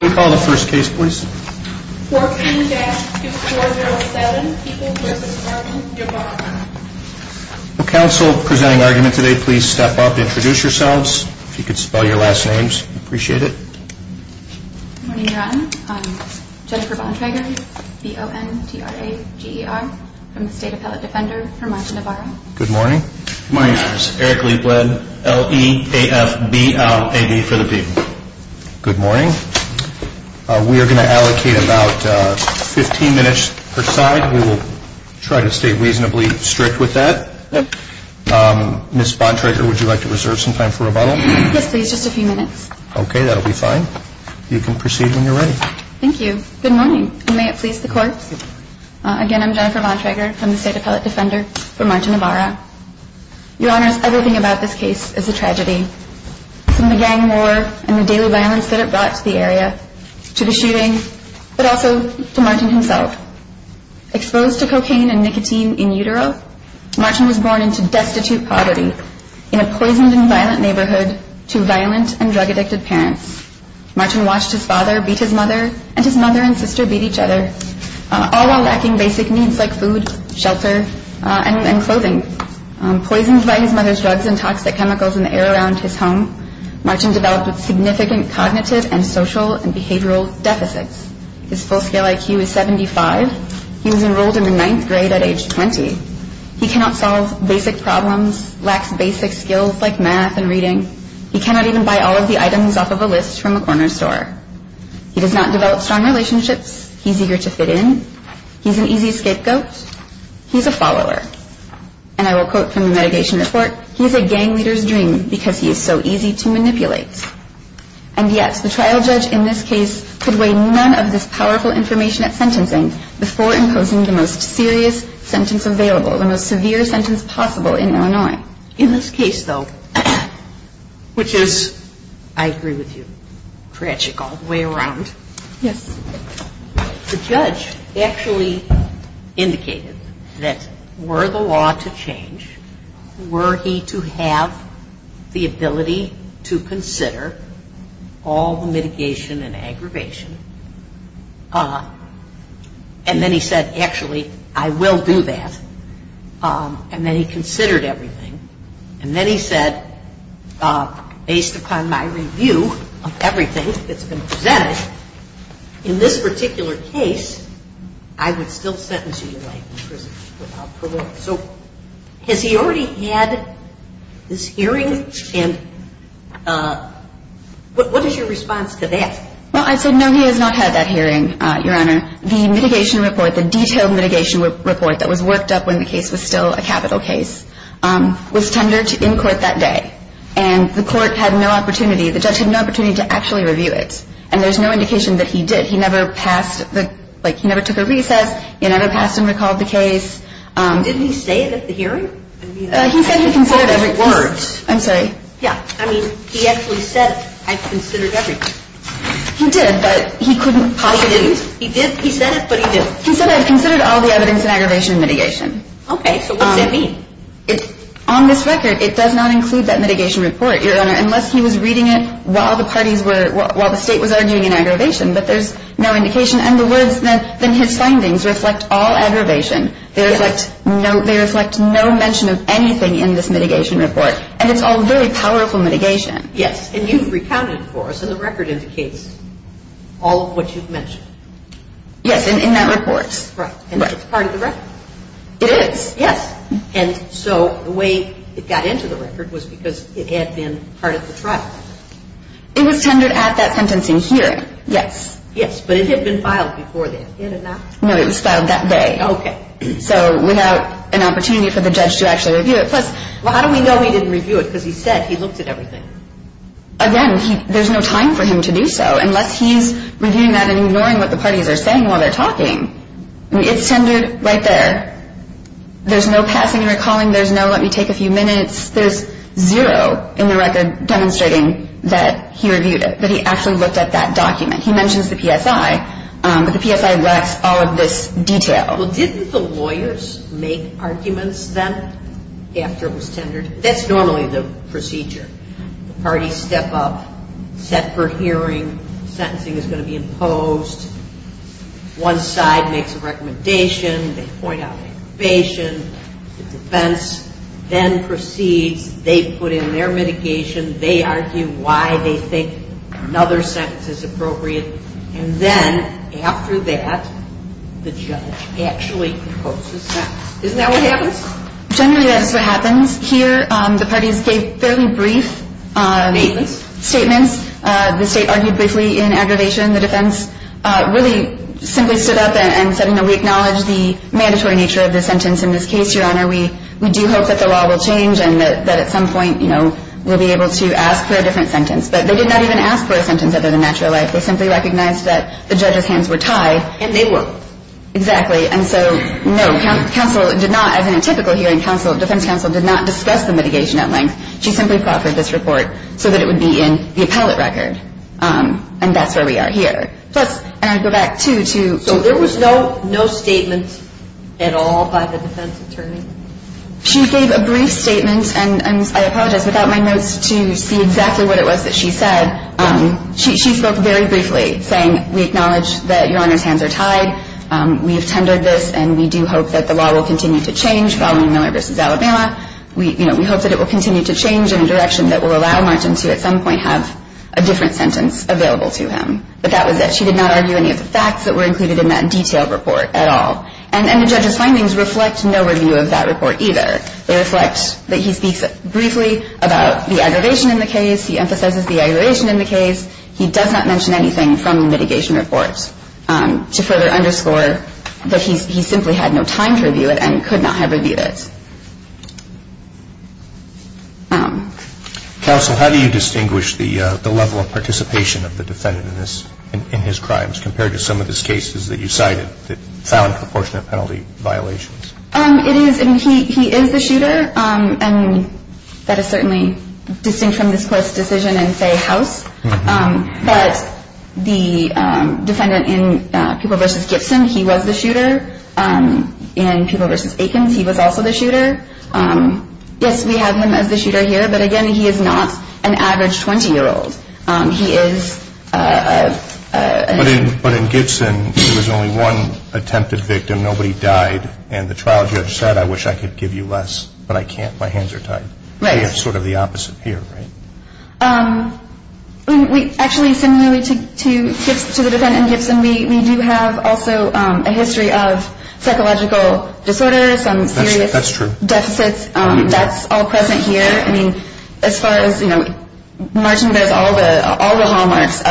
Can we call the first case please? 14-407 People v. Norman Ybarra. Will counsel presenting argument today please step up and introduce yourselves. If you could spell your last names, we'd appreciate it. Good morning, Your Honor. I'm Jennifer Bontrager, B-O-N-T-R-A-G-E-R, from the State Appellate Defender for Monta Navarro. Good morning. Good morning, Your Honor. I'm Eric Lee Bled, L-E-A-F-B-L-A-B for the People. Good morning. We are going to allocate about 15 minutes per side. We will try to stay reasonably strict with that. Ms. Bontrager, would you like to reserve some time for rebuttal? Yes, please. Just a few minutes. Okay. That'll be fine. You can proceed when you're ready. Thank you. Good morning. May it please the courts. Again, I'm Jennifer Bontrager from the State Appellate Defender for Monta Navarro. Your Honor, everything about this case is a tragedy, from the gang war and the daily violence that it brought to the area, to the shooting, but also to Martin himself. Exposed to cocaine and nicotine in utero, Martin was born into destitute poverty in a poisoned and violent neighborhood to violent and drug-addicted parents. Martin watched his father beat his mother, and his mother and sister beat each other, all while lacking basic needs like food, shelter, and clothing. Poisoned by his mother's drugs and toxic chemicals in the air around his home, Martin developed significant cognitive and social and behavioral deficits. His full-scale IQ is 75. He was enrolled in the ninth grade at age 20. He cannot solve basic problems, lacks basic skills like math and reading. He cannot even buy all of the items off of a list from a corner store. He does not develop strong relationships. He's eager to fit in. He's an easy scapegoat. He's a follower. And I will quote from the mitigation report, he's a gang leader's dream because he is so easy to manipulate. And yet the trial judge in this case could weigh none of this powerful information at sentencing before imposing the most serious sentence available, the most severe sentence possible in Illinois. In this case, though, which is, I agree with you, tragic all the way around. Yes. The judge actually indicated that were the law to change, were he to have the ability to consider all the mitigation and aggravation, and then he said, actually, I will do that. And then he considered everything. And then he said, based upon my review of everything that's been presented, in this particular case, I would still sentence you to life in prison without parole. So has he already had this hearing? And what is your response to that? Well, I said, no, he has not had that hearing, Your Honor. The mitigation report, the detailed mitigation report that was worked up when the case was still a capital case, was tendered in court that day. And the court had no opportunity, the judge had no opportunity to actually review it. And there's no indication that he did. He never passed the, like, he never took a recess, he never passed and recalled the case. Did he say it at the hearing? He said he considered everything. I'm sorry. Yeah, I mean, he actually said, I considered everything. He did, but he couldn't possibly. He did, he said it, but he didn't. He said, I considered all the evidence in aggravation and mitigation. Okay, so what does that mean? On this record, it does not include that mitigation report, Your Honor, unless he was reading it while the parties were, while the State was arguing in aggravation. But there's no indication. In other words, then his findings reflect all aggravation. They reflect no mention of anything in this mitigation report. And it's all very powerful mitigation. Yes, and you've recounted for us, and the record indicates all of what you've mentioned. Yes, in that report. Yes. Right, and it's part of the record. It is, yes. And so the way it got into the record was because it had been part of the trial. It was tendered at that sentencing hearing, yes. Yes, but it had been filed before that, had it not? No, it was filed that day. Okay, so without an opportunity for the judge to actually review it. Plus, how do we know he didn't review it because he said he looked at everything? Again, there's no time for him to do so unless he's reviewing that and ignoring what the parties are saying while they're talking. I mean, it's tendered right there. There's no passing and recalling. There's no, let me take a few minutes. There's zero in the record demonstrating that he reviewed it, that he actually looked at that document. He mentions the PSI, but the PSI lacks all of this detail. Well, didn't the lawyers make arguments then after it was tendered? That's normally the procedure. The parties step up, set for hearing. Sentencing is going to be imposed. One side makes a recommendation. They point out an innovation. The defense then proceeds. They put in their mitigation. They argue why they think another sentence is appropriate. And then after that, the judge actually proposes that. Isn't that what happens? Generally, that is what happens. Here, the parties gave fairly brief statements. The state argued briefly in aggravation. The defense really simply stood up and said, you know, we acknowledge the mandatory nature of the sentence in this case, Your Honor. We do hope that the law will change and that at some point, you know, we'll be able to ask for a different sentence. But they did not even ask for a sentence other than natural life. They simply recognized that the judge's hands were tied. And they were. Exactly. And so, no, counsel did not, as in a typical hearing, defense counsel did not discuss the mitigation at length. She simply proffered this report so that it would be in the appellate record. And that's where we are here. Plus, and I go back, too, to. So there was no statement at all by the defense attorney? She gave a brief statement, and I apologize without my notes to see exactly what it was that she said. She spoke very briefly, saying we acknowledge that Your Honor's hands are tied. We have tendered this, and we do hope that the law will continue to change following Miller v. Alabama. We hope that it will continue to change in a direction that will allow Martin to at some point have a different sentence available to him. But that was it. The defense attorney did not argue any of the facts that were included in that detailed report at all. And the judge's findings reflect no review of that report either. They reflect that he speaks briefly about the aggravation in the case. He emphasizes the aggravation in the case. He does not mention anything from the mitigation report. To further underscore that he simply had no time to review it and could not have reviewed it. Counsel, how do you distinguish the level of participation of the defendant in his crimes compared to some of his cases that you cited that found proportionate penalty violations? He is the shooter. And that is certainly distinct from this Court's decision in, say, House. But the defendant in Peeble v. Gibson, he was the shooter. In Peeble v. Aikens, he was also the shooter. Yes, we have him as the shooter here. But again, he is not an average 20-year-old. But in Gibson, there was only one attempted victim. Nobody died. And the trial judge said, I wish I could give you less, but I can't. My hands are tied. Right. We have sort of the opposite here, right? Actually, similarly to the defendant in Gibson, we do have also a history of psychological disorders, some serious deficits. That's true. That's all present here. I mean, as far as, you know, Martin bears all the hallmarks,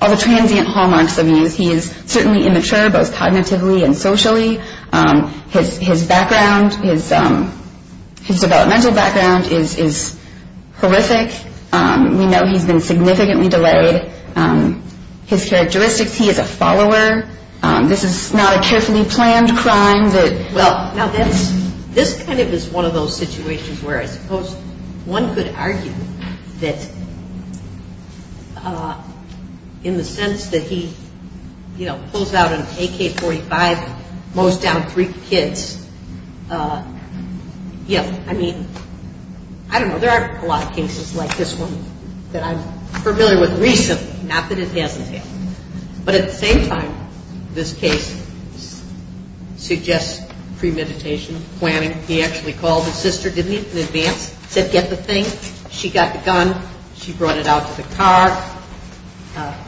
all the transient hallmarks of these. He is certainly immature, both cognitively and socially. His background, his developmental background is horrific. We know he's been significantly delayed. His characteristics, he is a follower. This is not a carefully planned crime. Well, this kind of is one of those situations where I suppose one could argue that in the sense that he, you know, pulls out an AK-45, mows down three kids. Yeah, I mean, I don't know. There are a lot of cases like this one that I'm familiar with recently, not that it hasn't happened. But at the same time, this case suggests premeditation, planning. He actually called his sister, didn't he, in advance, said, get the thing. She got the gun. She brought it out to the car.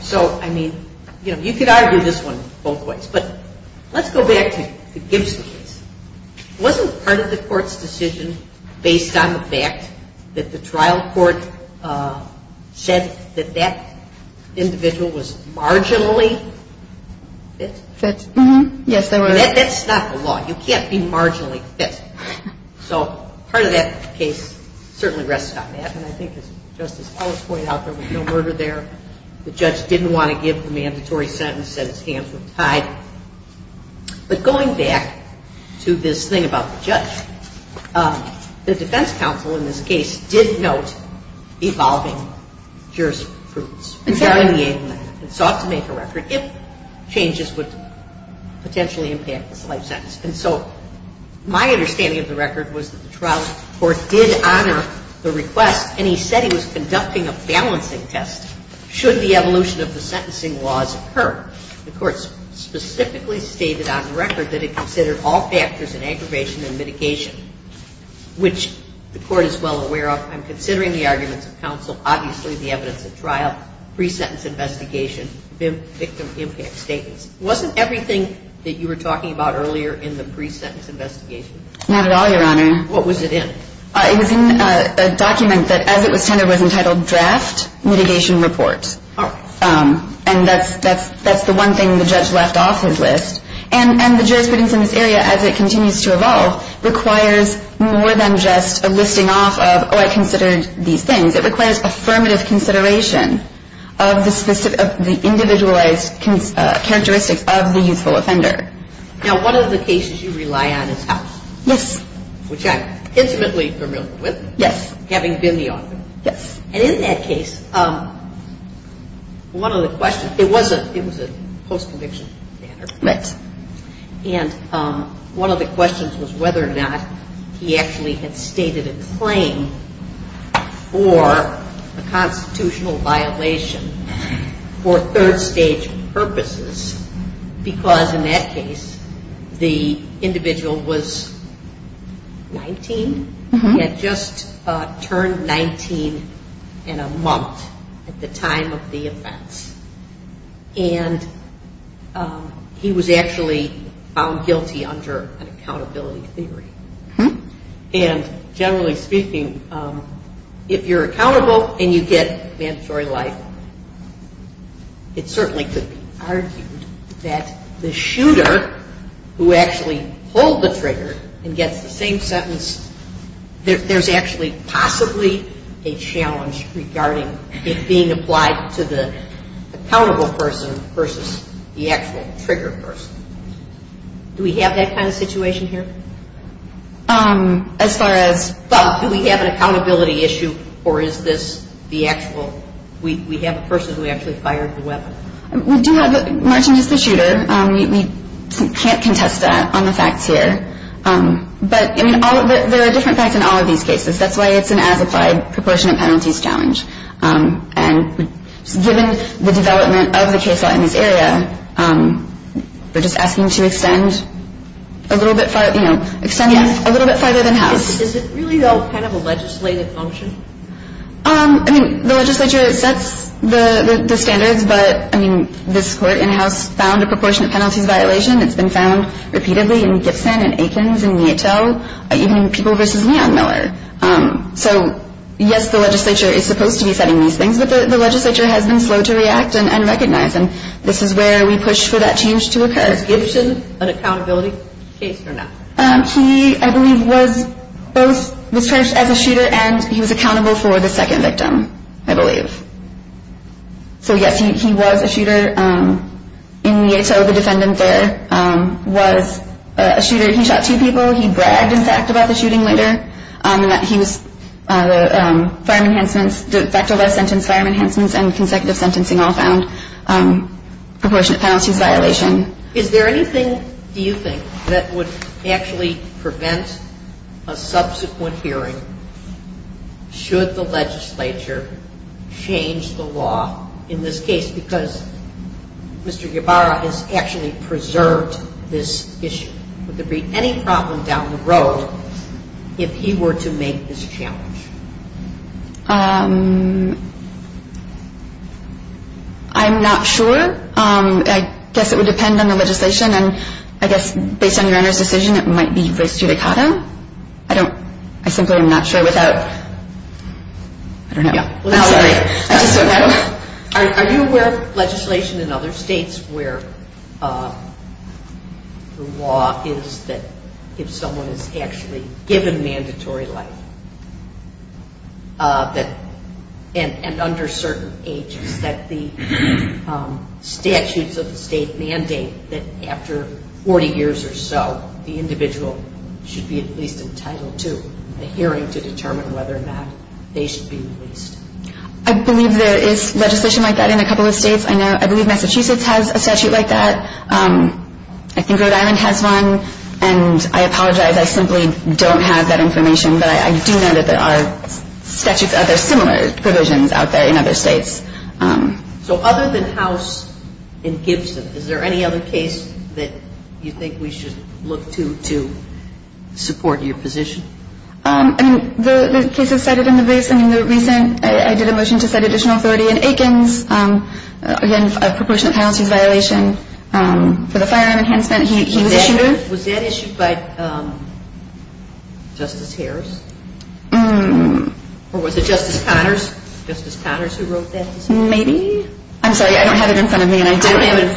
So, I mean, you know, you could argue this one both ways. But let's go back to the Gibson case. Wasn't part of the court's decision based on the fact that the trial court said that that individual was marginally fit? Yes, they were. That's not the law. You can't be marginally fit. So part of that case certainly rests on that. And I think as Justice Ellis pointed out, there was no murder there. The judge didn't want to give the mandatory sentence, said his hands were tied. But going back to this thing about the judge, the defense counsel in this case did note evolving jurisprudence. Exactly. And sought to make a record if changes would potentially impact this life sentence. And so my understanding of the record was that the trial court did honor the request, and he said he was conducting a balancing test should the evolution of the sentencing laws occur. The court specifically stated on record that it considered all factors in aggravation and mitigation, which the court is well aware of. I'm considering the arguments of counsel, obviously the evidence of trial, pre-sentence investigation, victim impact statements. Wasn't everything that you were talking about earlier in the pre-sentence investigation? Not at all, Your Honor. What was it in? It was in a document that as it was tendered was entitled draft mitigation report. Oh. And that's the one thing the judge left off his list. And the jurisprudence in this area as it continues to evolve requires more than just a listing off of, oh, I considered these things. It requires affirmative consideration of the individualized characteristics of the youthful offender. Now, one of the cases you rely on is House. Yes. Which I'm intimately familiar with. Yes. Having been the author. Yes. And in that case, one of the questions, it was a post-conviction matter. Right. And one of the questions was whether or not he actually had stated a claim for a constitutional violation for third-stage purposes, because in that case the individual was 19, had just turned 19 in a month at the time of the offense. And he was actually found guilty under an accountability theory. And generally speaking, if you're accountable and you get mandatory life, it certainly could be argued that the shooter who actually pulled the trigger and gets the same sentence, there's actually possibly a challenge regarding it being applied to the accountable person versus the actual trigger person. Do we have that kind of situation here? As far as? Well, do we have an accountability issue, or is this the actual, we have a person who actually fired the weapon? We do have, Martin, just the shooter. We can't contest that on the facts here. But, I mean, there are different facts in all of these cases. That's why it's an as-applied proportionate penalties challenge. And given the development of the case law in this area, we're just asking to extend a little bit farther, you know, extend a little bit farther than House. Is it really, though, kind of a legislative function? I mean, the legislature sets the standards, but, I mean, this Court in House found a proportionate penalties violation. It's been found repeatedly in Gibson and Aikens and Nieto, even in people versus Leon Miller. So, yes, the legislature is supposed to be setting these things, but the legislature has been slow to react and recognize, and this is where we push for that change to occur. Was Gibson an accountability case or not? He, I believe, was charged as a shooter, and he was accountable for the second victim, I believe. So, yes, he was a shooter. In Nieto, the defendant there was a shooter. He shot two people. He bragged, in fact, about the shooting later. He was, the firearm enhancements, the fact of life sentence, firearm enhancements, and consecutive sentencing all found proportionate penalties violation. Is there anything, do you think, that would actually prevent a subsequent hearing should the legislature change the law in this case? Because Mr. Ybarra has actually preserved this issue. Would there be any problem down the road if he were to make this challenge? I'm not sure. I guess it would depend on the legislation, and I guess based on your Honor's decision, it might be res judicato. I don't, I simply am not sure without, I don't know. Are you aware of legislation in other states where the law is that if someone is actually given mandatory life, that, and under certain ages, that the statutes of the state mandate that after 40 years or so, the individual should be at least entitled to a hearing to determine whether or not they should be released? I believe there is legislation like that in a couple of states. I know, I believe Massachusetts has a statute like that. I think Rhode Island has one, and I apologize. I simply don't have that information, but I do know that there are statutes, there are similar provisions out there in other states. So other than House and Gibson, is there any other case that you think we should look to to support your position? I mean, the cases cited in the base, I mean, the recent, I did a motion to set additional authority in Aikens, again, a proportionate penalties violation for the firearm enhancement. Was that issued by Justice Harris? Or was it Justice Connors? Justice Connors who wrote that decision? Maybe. I'm sorry, I don't have it in front of me, and I didn't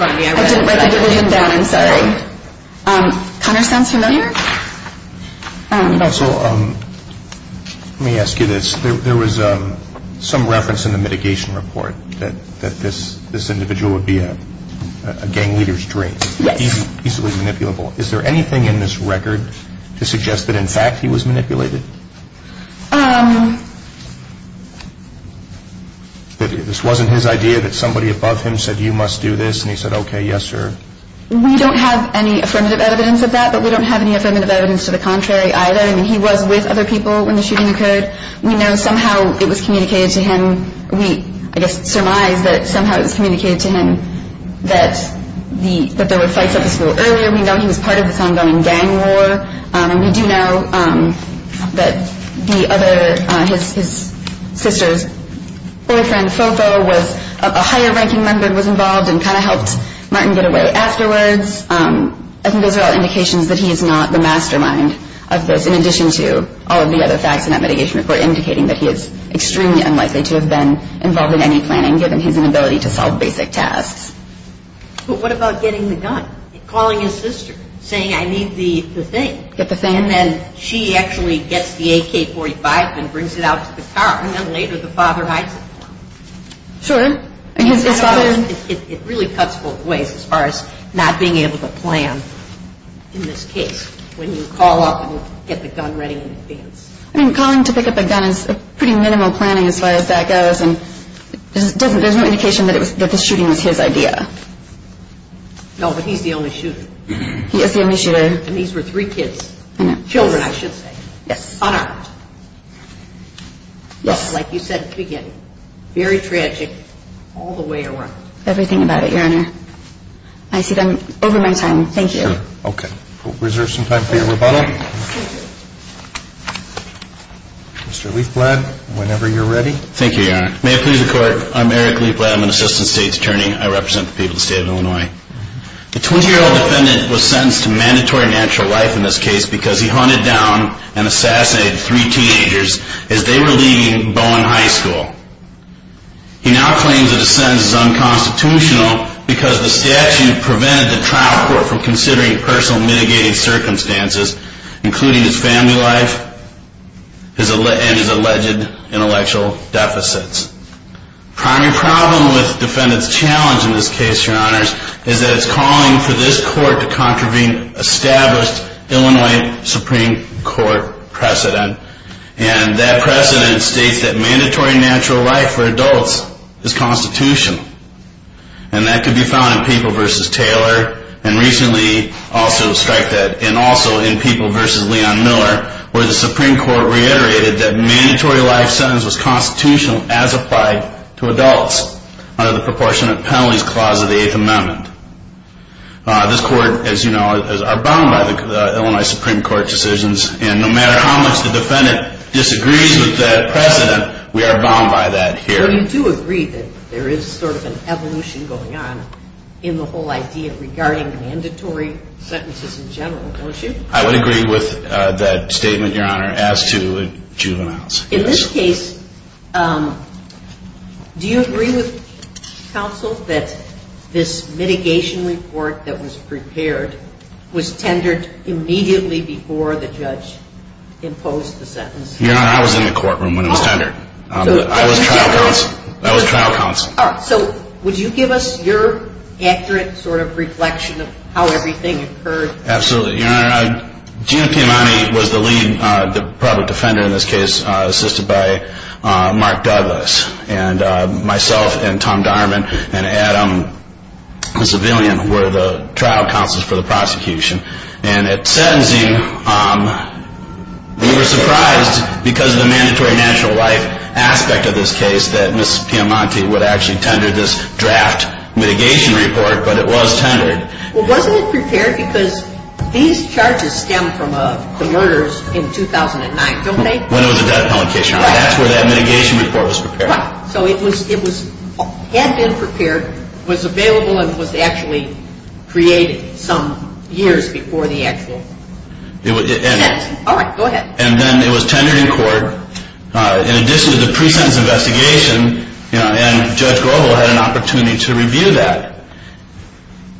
write the decision down, I'm sorry. Connors, sounds familiar? Let me ask you this. There was some reference in the mitigation report that this individual would be a gang leader's dream. Yes. He's easily manipulable. Is there anything in this record to suggest that, in fact, he was manipulated? That this wasn't his idea, that somebody above him said, you must do this, and he said, okay, yes, sir. We don't have any affirmative evidence of that, but we don't have any affirmative evidence to the contrary either. I mean, he was with other people when the shooting occurred. We know somehow it was communicated to him. We, I guess, surmise that somehow it was communicated to him that there were fights at the school earlier. We know he was part of this ongoing gang war. And we do know that the other, his sister's boyfriend, Fofo, was a higher-ranking member, was involved and kind of helped Martin get away afterwards. I think those are all indications that he is not the mastermind of this, in addition to all of the other facts in that mitigation report indicating that he is extremely unlikely to have been involved in any planning, given his inability to solve basic tasks. But what about getting the gun? Calling his sister, saying, I need the thing. Get the thing. And then she actually gets the AK-45 and brings it out to the car. And then later the father hides it for him. Sure. His father. It really cuts both ways as far as not being able to plan in this case. When you call up and get the gun ready in advance. I mean, calling to pick up a gun is pretty minimal planning as far as that goes. And there's no indication that the shooting was his idea. No, but he's the only shooter. He is the only shooter. And these were three kids. I know. Children, I should say. Yes. Unarmed. Yes. Like you said at the beginning, very tragic all the way around. Everything about it, Your Honor. I see them over my time. Thank you. Okay. We'll reserve some time for your rebuttal. Mr. Leifblad, whenever you're ready. Thank you, Your Honor. May it please the Court. I'm Eric Leifblad. I'm an Assistant State's Attorney. I represent the people of the State of Illinois. The 20-year-old defendant was sentenced to mandatory natural life in this case because he hunted down and assassinated three teenagers as they were leaving Bowen High School. He now claims that his sentence is unconstitutional because the statute prevented the trial court from considering personal mitigating circumstances, including his family life and his alleged intellectual deficits. The primary problem with the defendant's challenge in this case, Your Honors, is that it's calling for this Court to contravene established Illinois Supreme Court precedent. And that precedent states that mandatory natural life for adults is constitutional. And that can be found in Papal v. Taylor, and recently also in Papal v. Leon Miller, where the Supreme Court reiterated that mandatory life sentence was constitutional as applied to adults under the Proportionate Penalties Clause of the Eighth Amendment. This Court, as you know, is bound by the Illinois Supreme Court decisions, and no matter how much the defendant disagrees with that precedent, we are bound by that here. So you do agree that there is sort of an evolution going on in the whole idea regarding mandatory sentences in general, don't you? I would agree with that statement, Your Honor, as to juveniles. In this case, do you agree with counsel that this mitigation report that was prepared was tendered immediately before the judge imposed the sentence? Your Honor, I was in the courtroom when it was tendered. I was trial counsel. All right. So would you give us your accurate sort of reflection of how everything occurred? Absolutely. Your Honor, Gina Piemonte was the lead, the public defender in this case, assisted by Mark Douglas. And myself and Tom Dierman and Adam, the civilian, were the trial counsels for the prosecution. And at sentencing, we were surprised because of the mandatory national life aspect of this case that Ms. Piemonte would actually tender this draft mitigation report, but it was tendered. Well, wasn't it prepared because these charges stem from the murders in 2009, don't they? When it was a death penalty case, Your Honor. Right. That's where that mitigation report was prepared. Right. So it had been prepared, was available, and was actually created some years before the actual sentence. All right. Go ahead. And then it was tendered in court in addition to the pre-sentence investigation, and Judge Grobel had an opportunity to review that.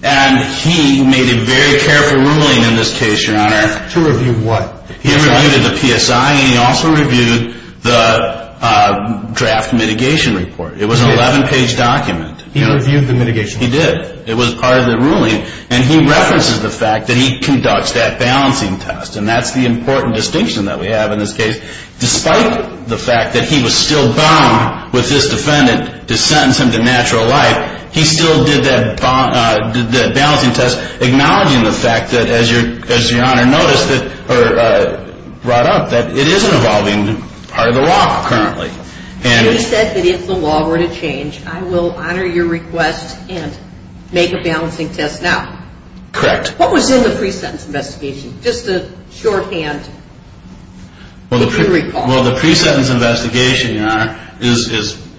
And he made a very careful ruling in this case, Your Honor. To review what? He reviewed the PSI, and he also reviewed the draft mitigation report. It was an 11-page document. He reviewed the mitigation report. He did. It was part of the ruling. And he references the fact that he conducts that balancing test, and that's the important distinction that we have in this case. Despite the fact that he was still bound with this defendant to sentence him to natural life, he still did that balancing test, acknowledging the fact that, as Your Honor noticed, or brought up, that it is an evolving part of the law currently. And he said that if the law were to change, I will honor your request and make a balancing test now. Correct. What was in the pre-sentence investigation? Just a shorthand recall. Well, the pre-sentence investigation, Your Honor, is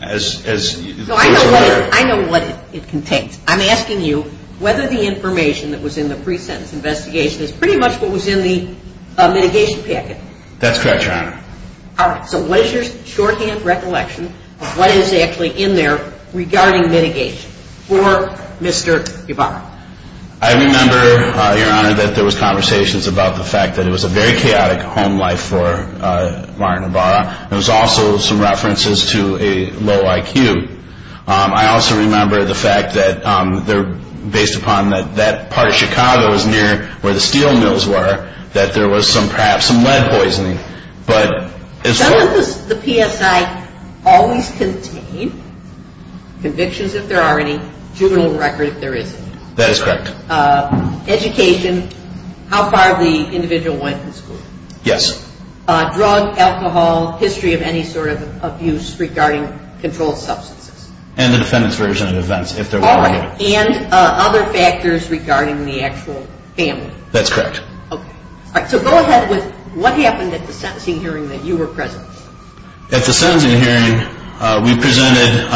as you put it there. I know what it contains. I'm asking you whether the information that was in the pre-sentence investigation is pretty much what was in the mitigation packet. That's correct, Your Honor. All right. So what is your shorthand recollection of what is actually in there regarding mitigation for Mr. Ibarra? I remember, Your Honor, that there was conversations about the fact that it was a very chaotic home life for Martin Ibarra. There was also some references to a low IQ. I also remember the fact that based upon that that part of Chicago is near where the steel mills were, that there was perhaps some lead poisoning. Does the PSI always contain convictions if there are any, juvenile record if there isn't any? That is correct. Education, how far the individual went to school. Yes. Drug, alcohol, history of any sort of abuse regarding controlled substances. And the defendant's version of events, if there were any. All right. And other factors regarding the actual family. That's correct. Okay. All right. So go ahead with what happened at the sentencing hearing that you were present. At the sentencing hearing, we presented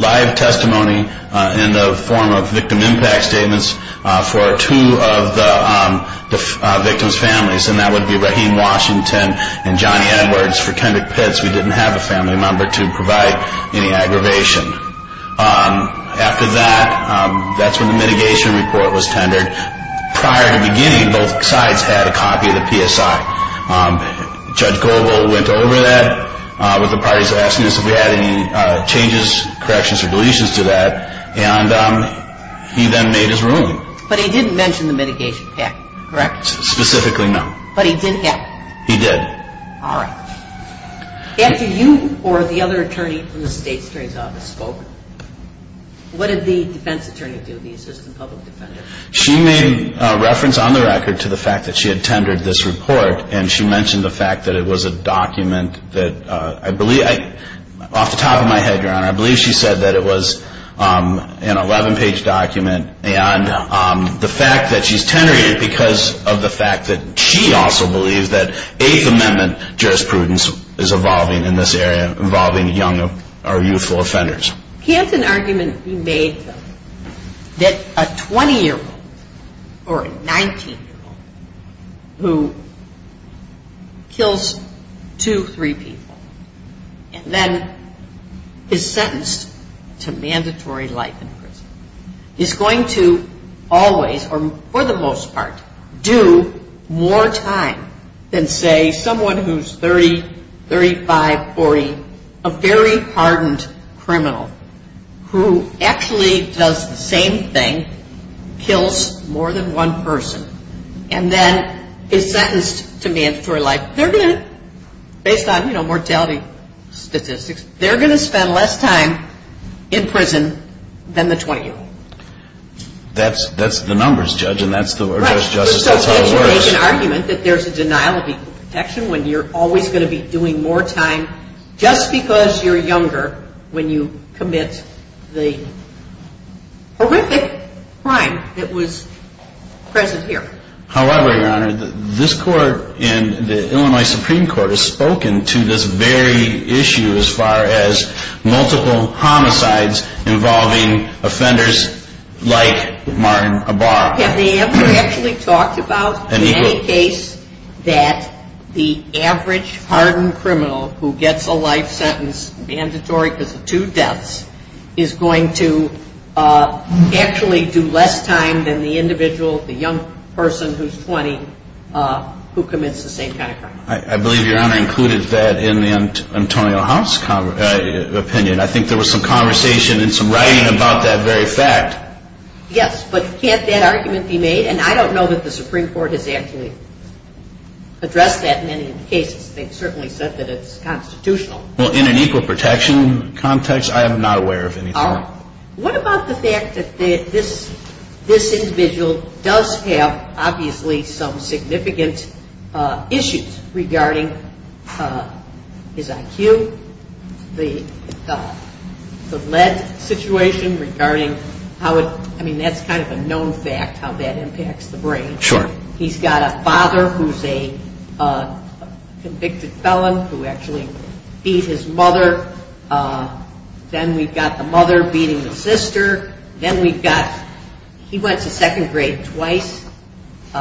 live testimony in the form of victim impact statements for two of the victim's families, and that would be Raheem Washington and Johnny Edwards. For Kendrick Pitts, we didn't have a family member to provide any aggravation. After that, that's when the mitigation report was tendered. Prior to the beginning, both sides had a copy of the PSI. Judge Goldwell went over that with the parties asking us if we had any changes, corrections, or deletions to that, and he then made his ruling. But he didn't mention the mitigation package, correct? Specifically, no. But he did have it? He did. All right. After you or the other attorney from the State's Attorney's Office spoke, what did the defense attorney do, the assistant public defender? She made reference on the record to the fact that she had tendered this report, and she mentioned the fact that it was a document that I believe, off the top of my head, Your Honor, I believe she said that it was an 11-page document, and the fact that she's tendered it because of the fact that she also believes that Eighth Amendment jurisprudence is evolving in this area, involving young or youthful offenders. Can't an argument be made that a 20-year-old or a 19-year-old who kills two, three people, and then is sentenced to mandatory life in prison, is going to always, or for the most part, do more time than, say, someone who's 30, 35, 40, a very hardened criminal who actually does the same thing, kills more than one person, and then is sentenced to mandatory life, they're going to, based on mortality statistics, they're going to spend less time in prison than the 20-year-old. That's the numbers, Judge, and that's the order of justice. Right, so can't you make an argument that there's a denial of equal protection when you're always going to be doing more time, just because you're younger when you commit the horrific crime that was present here? However, Your Honor, this Court in the Illinois Supreme Court has spoken to this very issue as far as multiple homicides involving offenders like Martin Abar. Now, have they ever actually talked about any case that the average hardened criminal who gets a life sentence mandatory because of two deaths is going to actually do less time than the individual, the young person who's 20, who commits the same kind of crime? I believe Your Honor included that in the Antonio House opinion. I think there was some conversation and some writing about that very fact. Yes, but can't that argument be made? And I don't know that the Supreme Court has actually addressed that in any of the cases. They've certainly said that it's constitutional. Well, in an equal protection context, I am not aware of anything. What about the fact that this individual does have obviously some significant issues regarding his IQ, the lead situation regarding how it, I mean, that's kind of a known fact, how that impacts the brain. Sure. He's got a father who's a convicted felon who actually beat his mother. Then we've got the mother beating the sister. Then we've got, he went to second grade twice.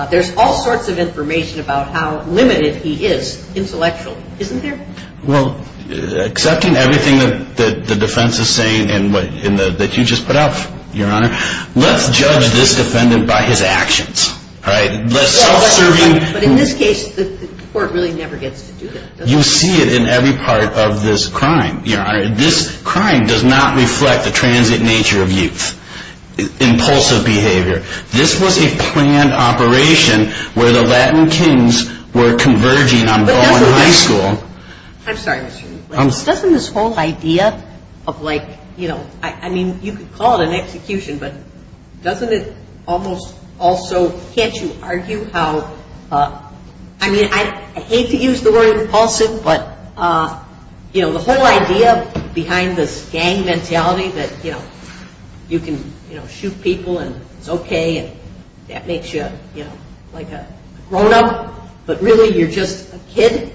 There's all sorts of information about how limited he is intellectually, isn't there? Well, accepting everything that the defense is saying and that you just put out, Your Honor, let's judge this defendant by his actions, all right? Let's self-serve him. But in this case, the court really never gets to do that. You see it in every part of this crime, Your Honor. This crime does not reflect the transient nature of youth, impulsive behavior. This was a planned operation where the Latin kings were converging on going to high school. I'm sorry, Mr. Newman. Doesn't this whole idea of like, you know, I mean, you could call it an execution, but doesn't it almost also, can't you argue how, I mean, I hate to use the word impulsive, but, you know, the whole idea behind this gang mentality that, you know, you can, you know, shoot people and it's okay and that makes you, you know, like a grown-up, but really you're just a kid?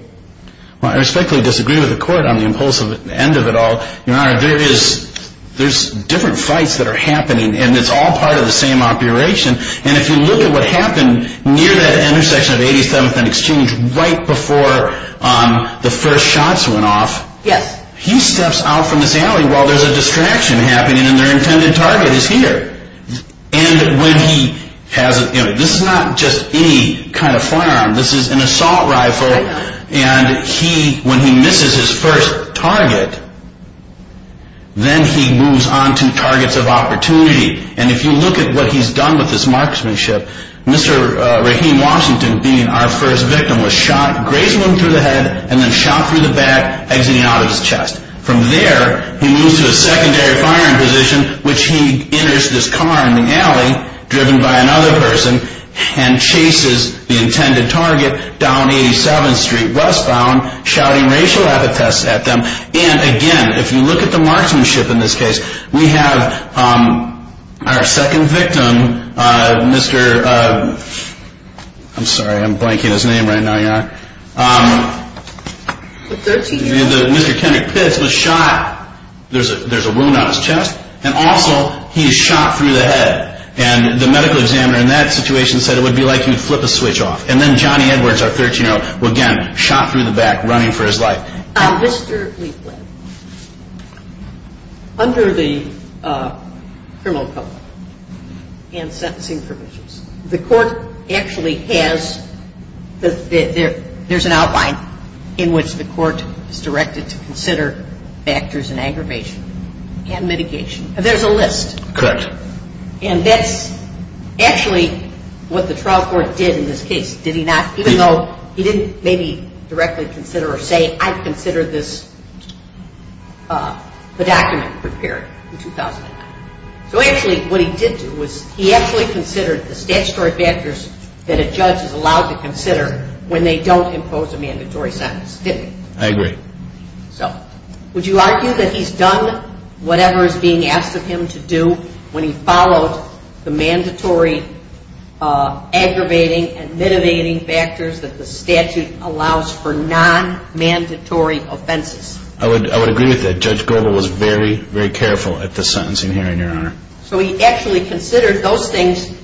Well, I respectfully disagree with the court on the impulsive end of it all. Your Honor, there is, there's different fights that are happening, and it's all part of the same operation. And if you look at what happened near that intersection of 87th and Exchange right before the first shots went off, he steps out from this alley while there's a distraction happening and their intended target is here. And when he has, you know, this is not just any kind of firearm. This is an assault rifle, and he, when he misses his first target, then he moves on to targets of opportunity. And if you look at what he's done with this marksmanship, Mr. Rahim Washington, being our first victim, was shot, grazing him through the head, and then shot through the back, exiting out of his chest. From there, he moves to a secondary firing position, which he enters this car in the alley, driven by another person, and chases the intended target down 87th Street westbound, shouting racial epithets at them. And again, if you look at the marksmanship in this case, we have our second victim, Mr. I'm sorry, I'm blanking his name right now. Yeah. The 13-year-old. Mr. Kendrick Pitts was shot. There's a wound on his chest, and also he's shot through the head. And the medical examiner in that situation said it would be like you'd flip a switch off. And then Johnny Edwards, our 13-year-old, again, shot through the back, running for his life. Mr. Liefblad, under the criminal code and sentencing provisions, the court actually has the there's an outline in which the court is directed to consider factors in aggravation and mitigation. There's a list. Correct. And that's actually what the trial court did in this case, did he not? Even though he didn't maybe directly consider or say I consider this the document prepared in 2009. So actually what he did do was he actually considered the statutory factors that a judge is allowed to consider when they don't impose a mandatory sentence, didn't he? I agree. So would you argue that he's done whatever is being asked of him to do when he followed the mandatory aggravating and mitigating factors that the statute allows for non-mandatory offenses? I would agree with that. Judge Goble was very, very careful at the sentencing hearing, Your Honor. So he actually considered those things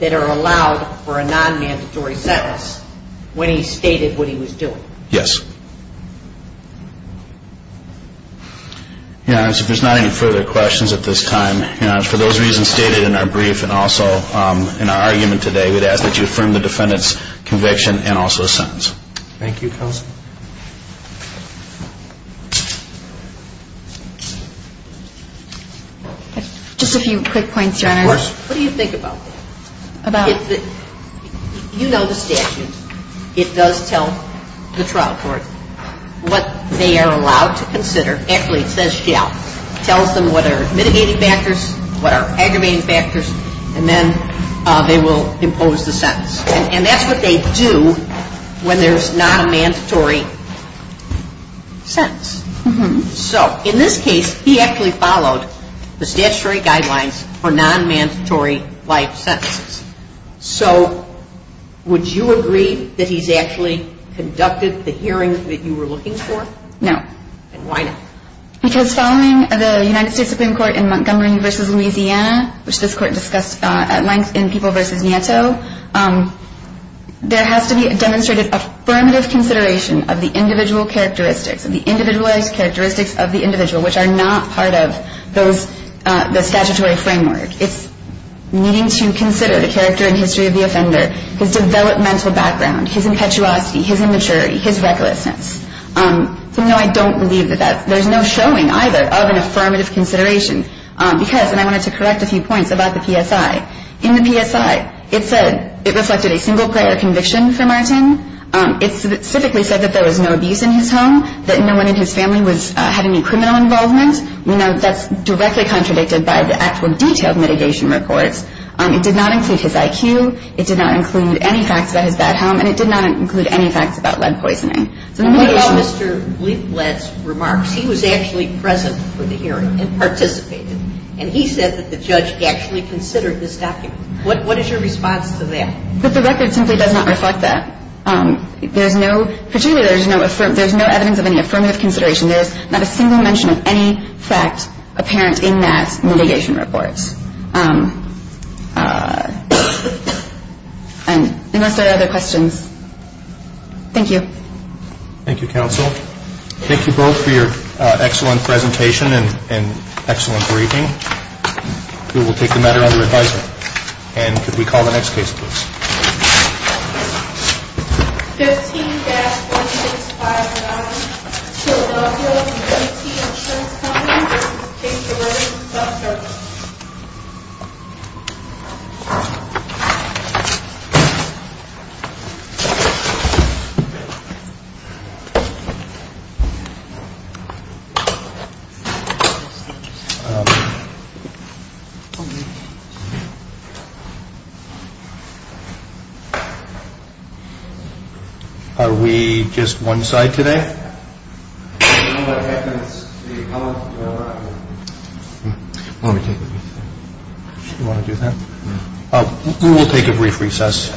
that are allowed for a non-mandatory sentence when he stated what he was doing? Yes. Your Honor, if there's not any further questions at this time, Your Honor, for those reasons stated in our brief and also in our argument today, we'd ask that you affirm the defendant's conviction and also his sentence. Thank you, counsel. Just a few quick points, Your Honor. Of course. What do you think about that? About? You know the statute. It does tell the trial court what they are allowed to consider. It tells them what are mitigating factors, what are aggravating factors, and then they will impose the sentence. And that's what they do when there's not a mandatory sentence. So in this case, he actually followed the statutory guidelines for non-mandatory life sentences. So would you agree that he's actually conducted the hearing that you were looking for? No. Then why not? Because following the United States Supreme Court in Montgomery v. Louisiana, which this court discussed at length in People v. Nieto, there has to be demonstrated affirmative consideration of the individual characteristics, of the individualized characteristics of the individual, which are not part of the statutory framework. It's needing to consider the character and history of the offender, his developmental background, his impetuosity, his immaturity, his recklessness. So, no, I don't believe that there's no showing either of an affirmative consideration, because, and I wanted to correct a few points about the PSI. In the PSI, it said it reflected a single-player conviction for Martin. It specifically said that there was no abuse in his home, that no one in his family had any criminal involvement. We know that's directly contradicted by the actual detailed mitigation reports. It did not include his IQ. It did not include any facts about his bad home. And it did not include any facts about lead poisoning. So the mitigation ---- Sotomayor, what about Mr. Leiblet's remarks? He was actually present for the hearing and participated. And he said that the judge actually considered this document. What is your response to that? But the record simply does not reflect that. There's no ---- particularly, there's no evidence of any affirmative consideration. There is not a single mention of any fact apparent in that mitigation report. And unless there are other questions, thank you. Thank you, counsel. Thank you both for your excellent presentation and excellent briefing. We will take the matter under advisement. And could we call the next case, please? 15-1659, Philadelphia, 18th and Trent County. This is a case of murder and self-defense. Are we just one side today? We will take a brief recess.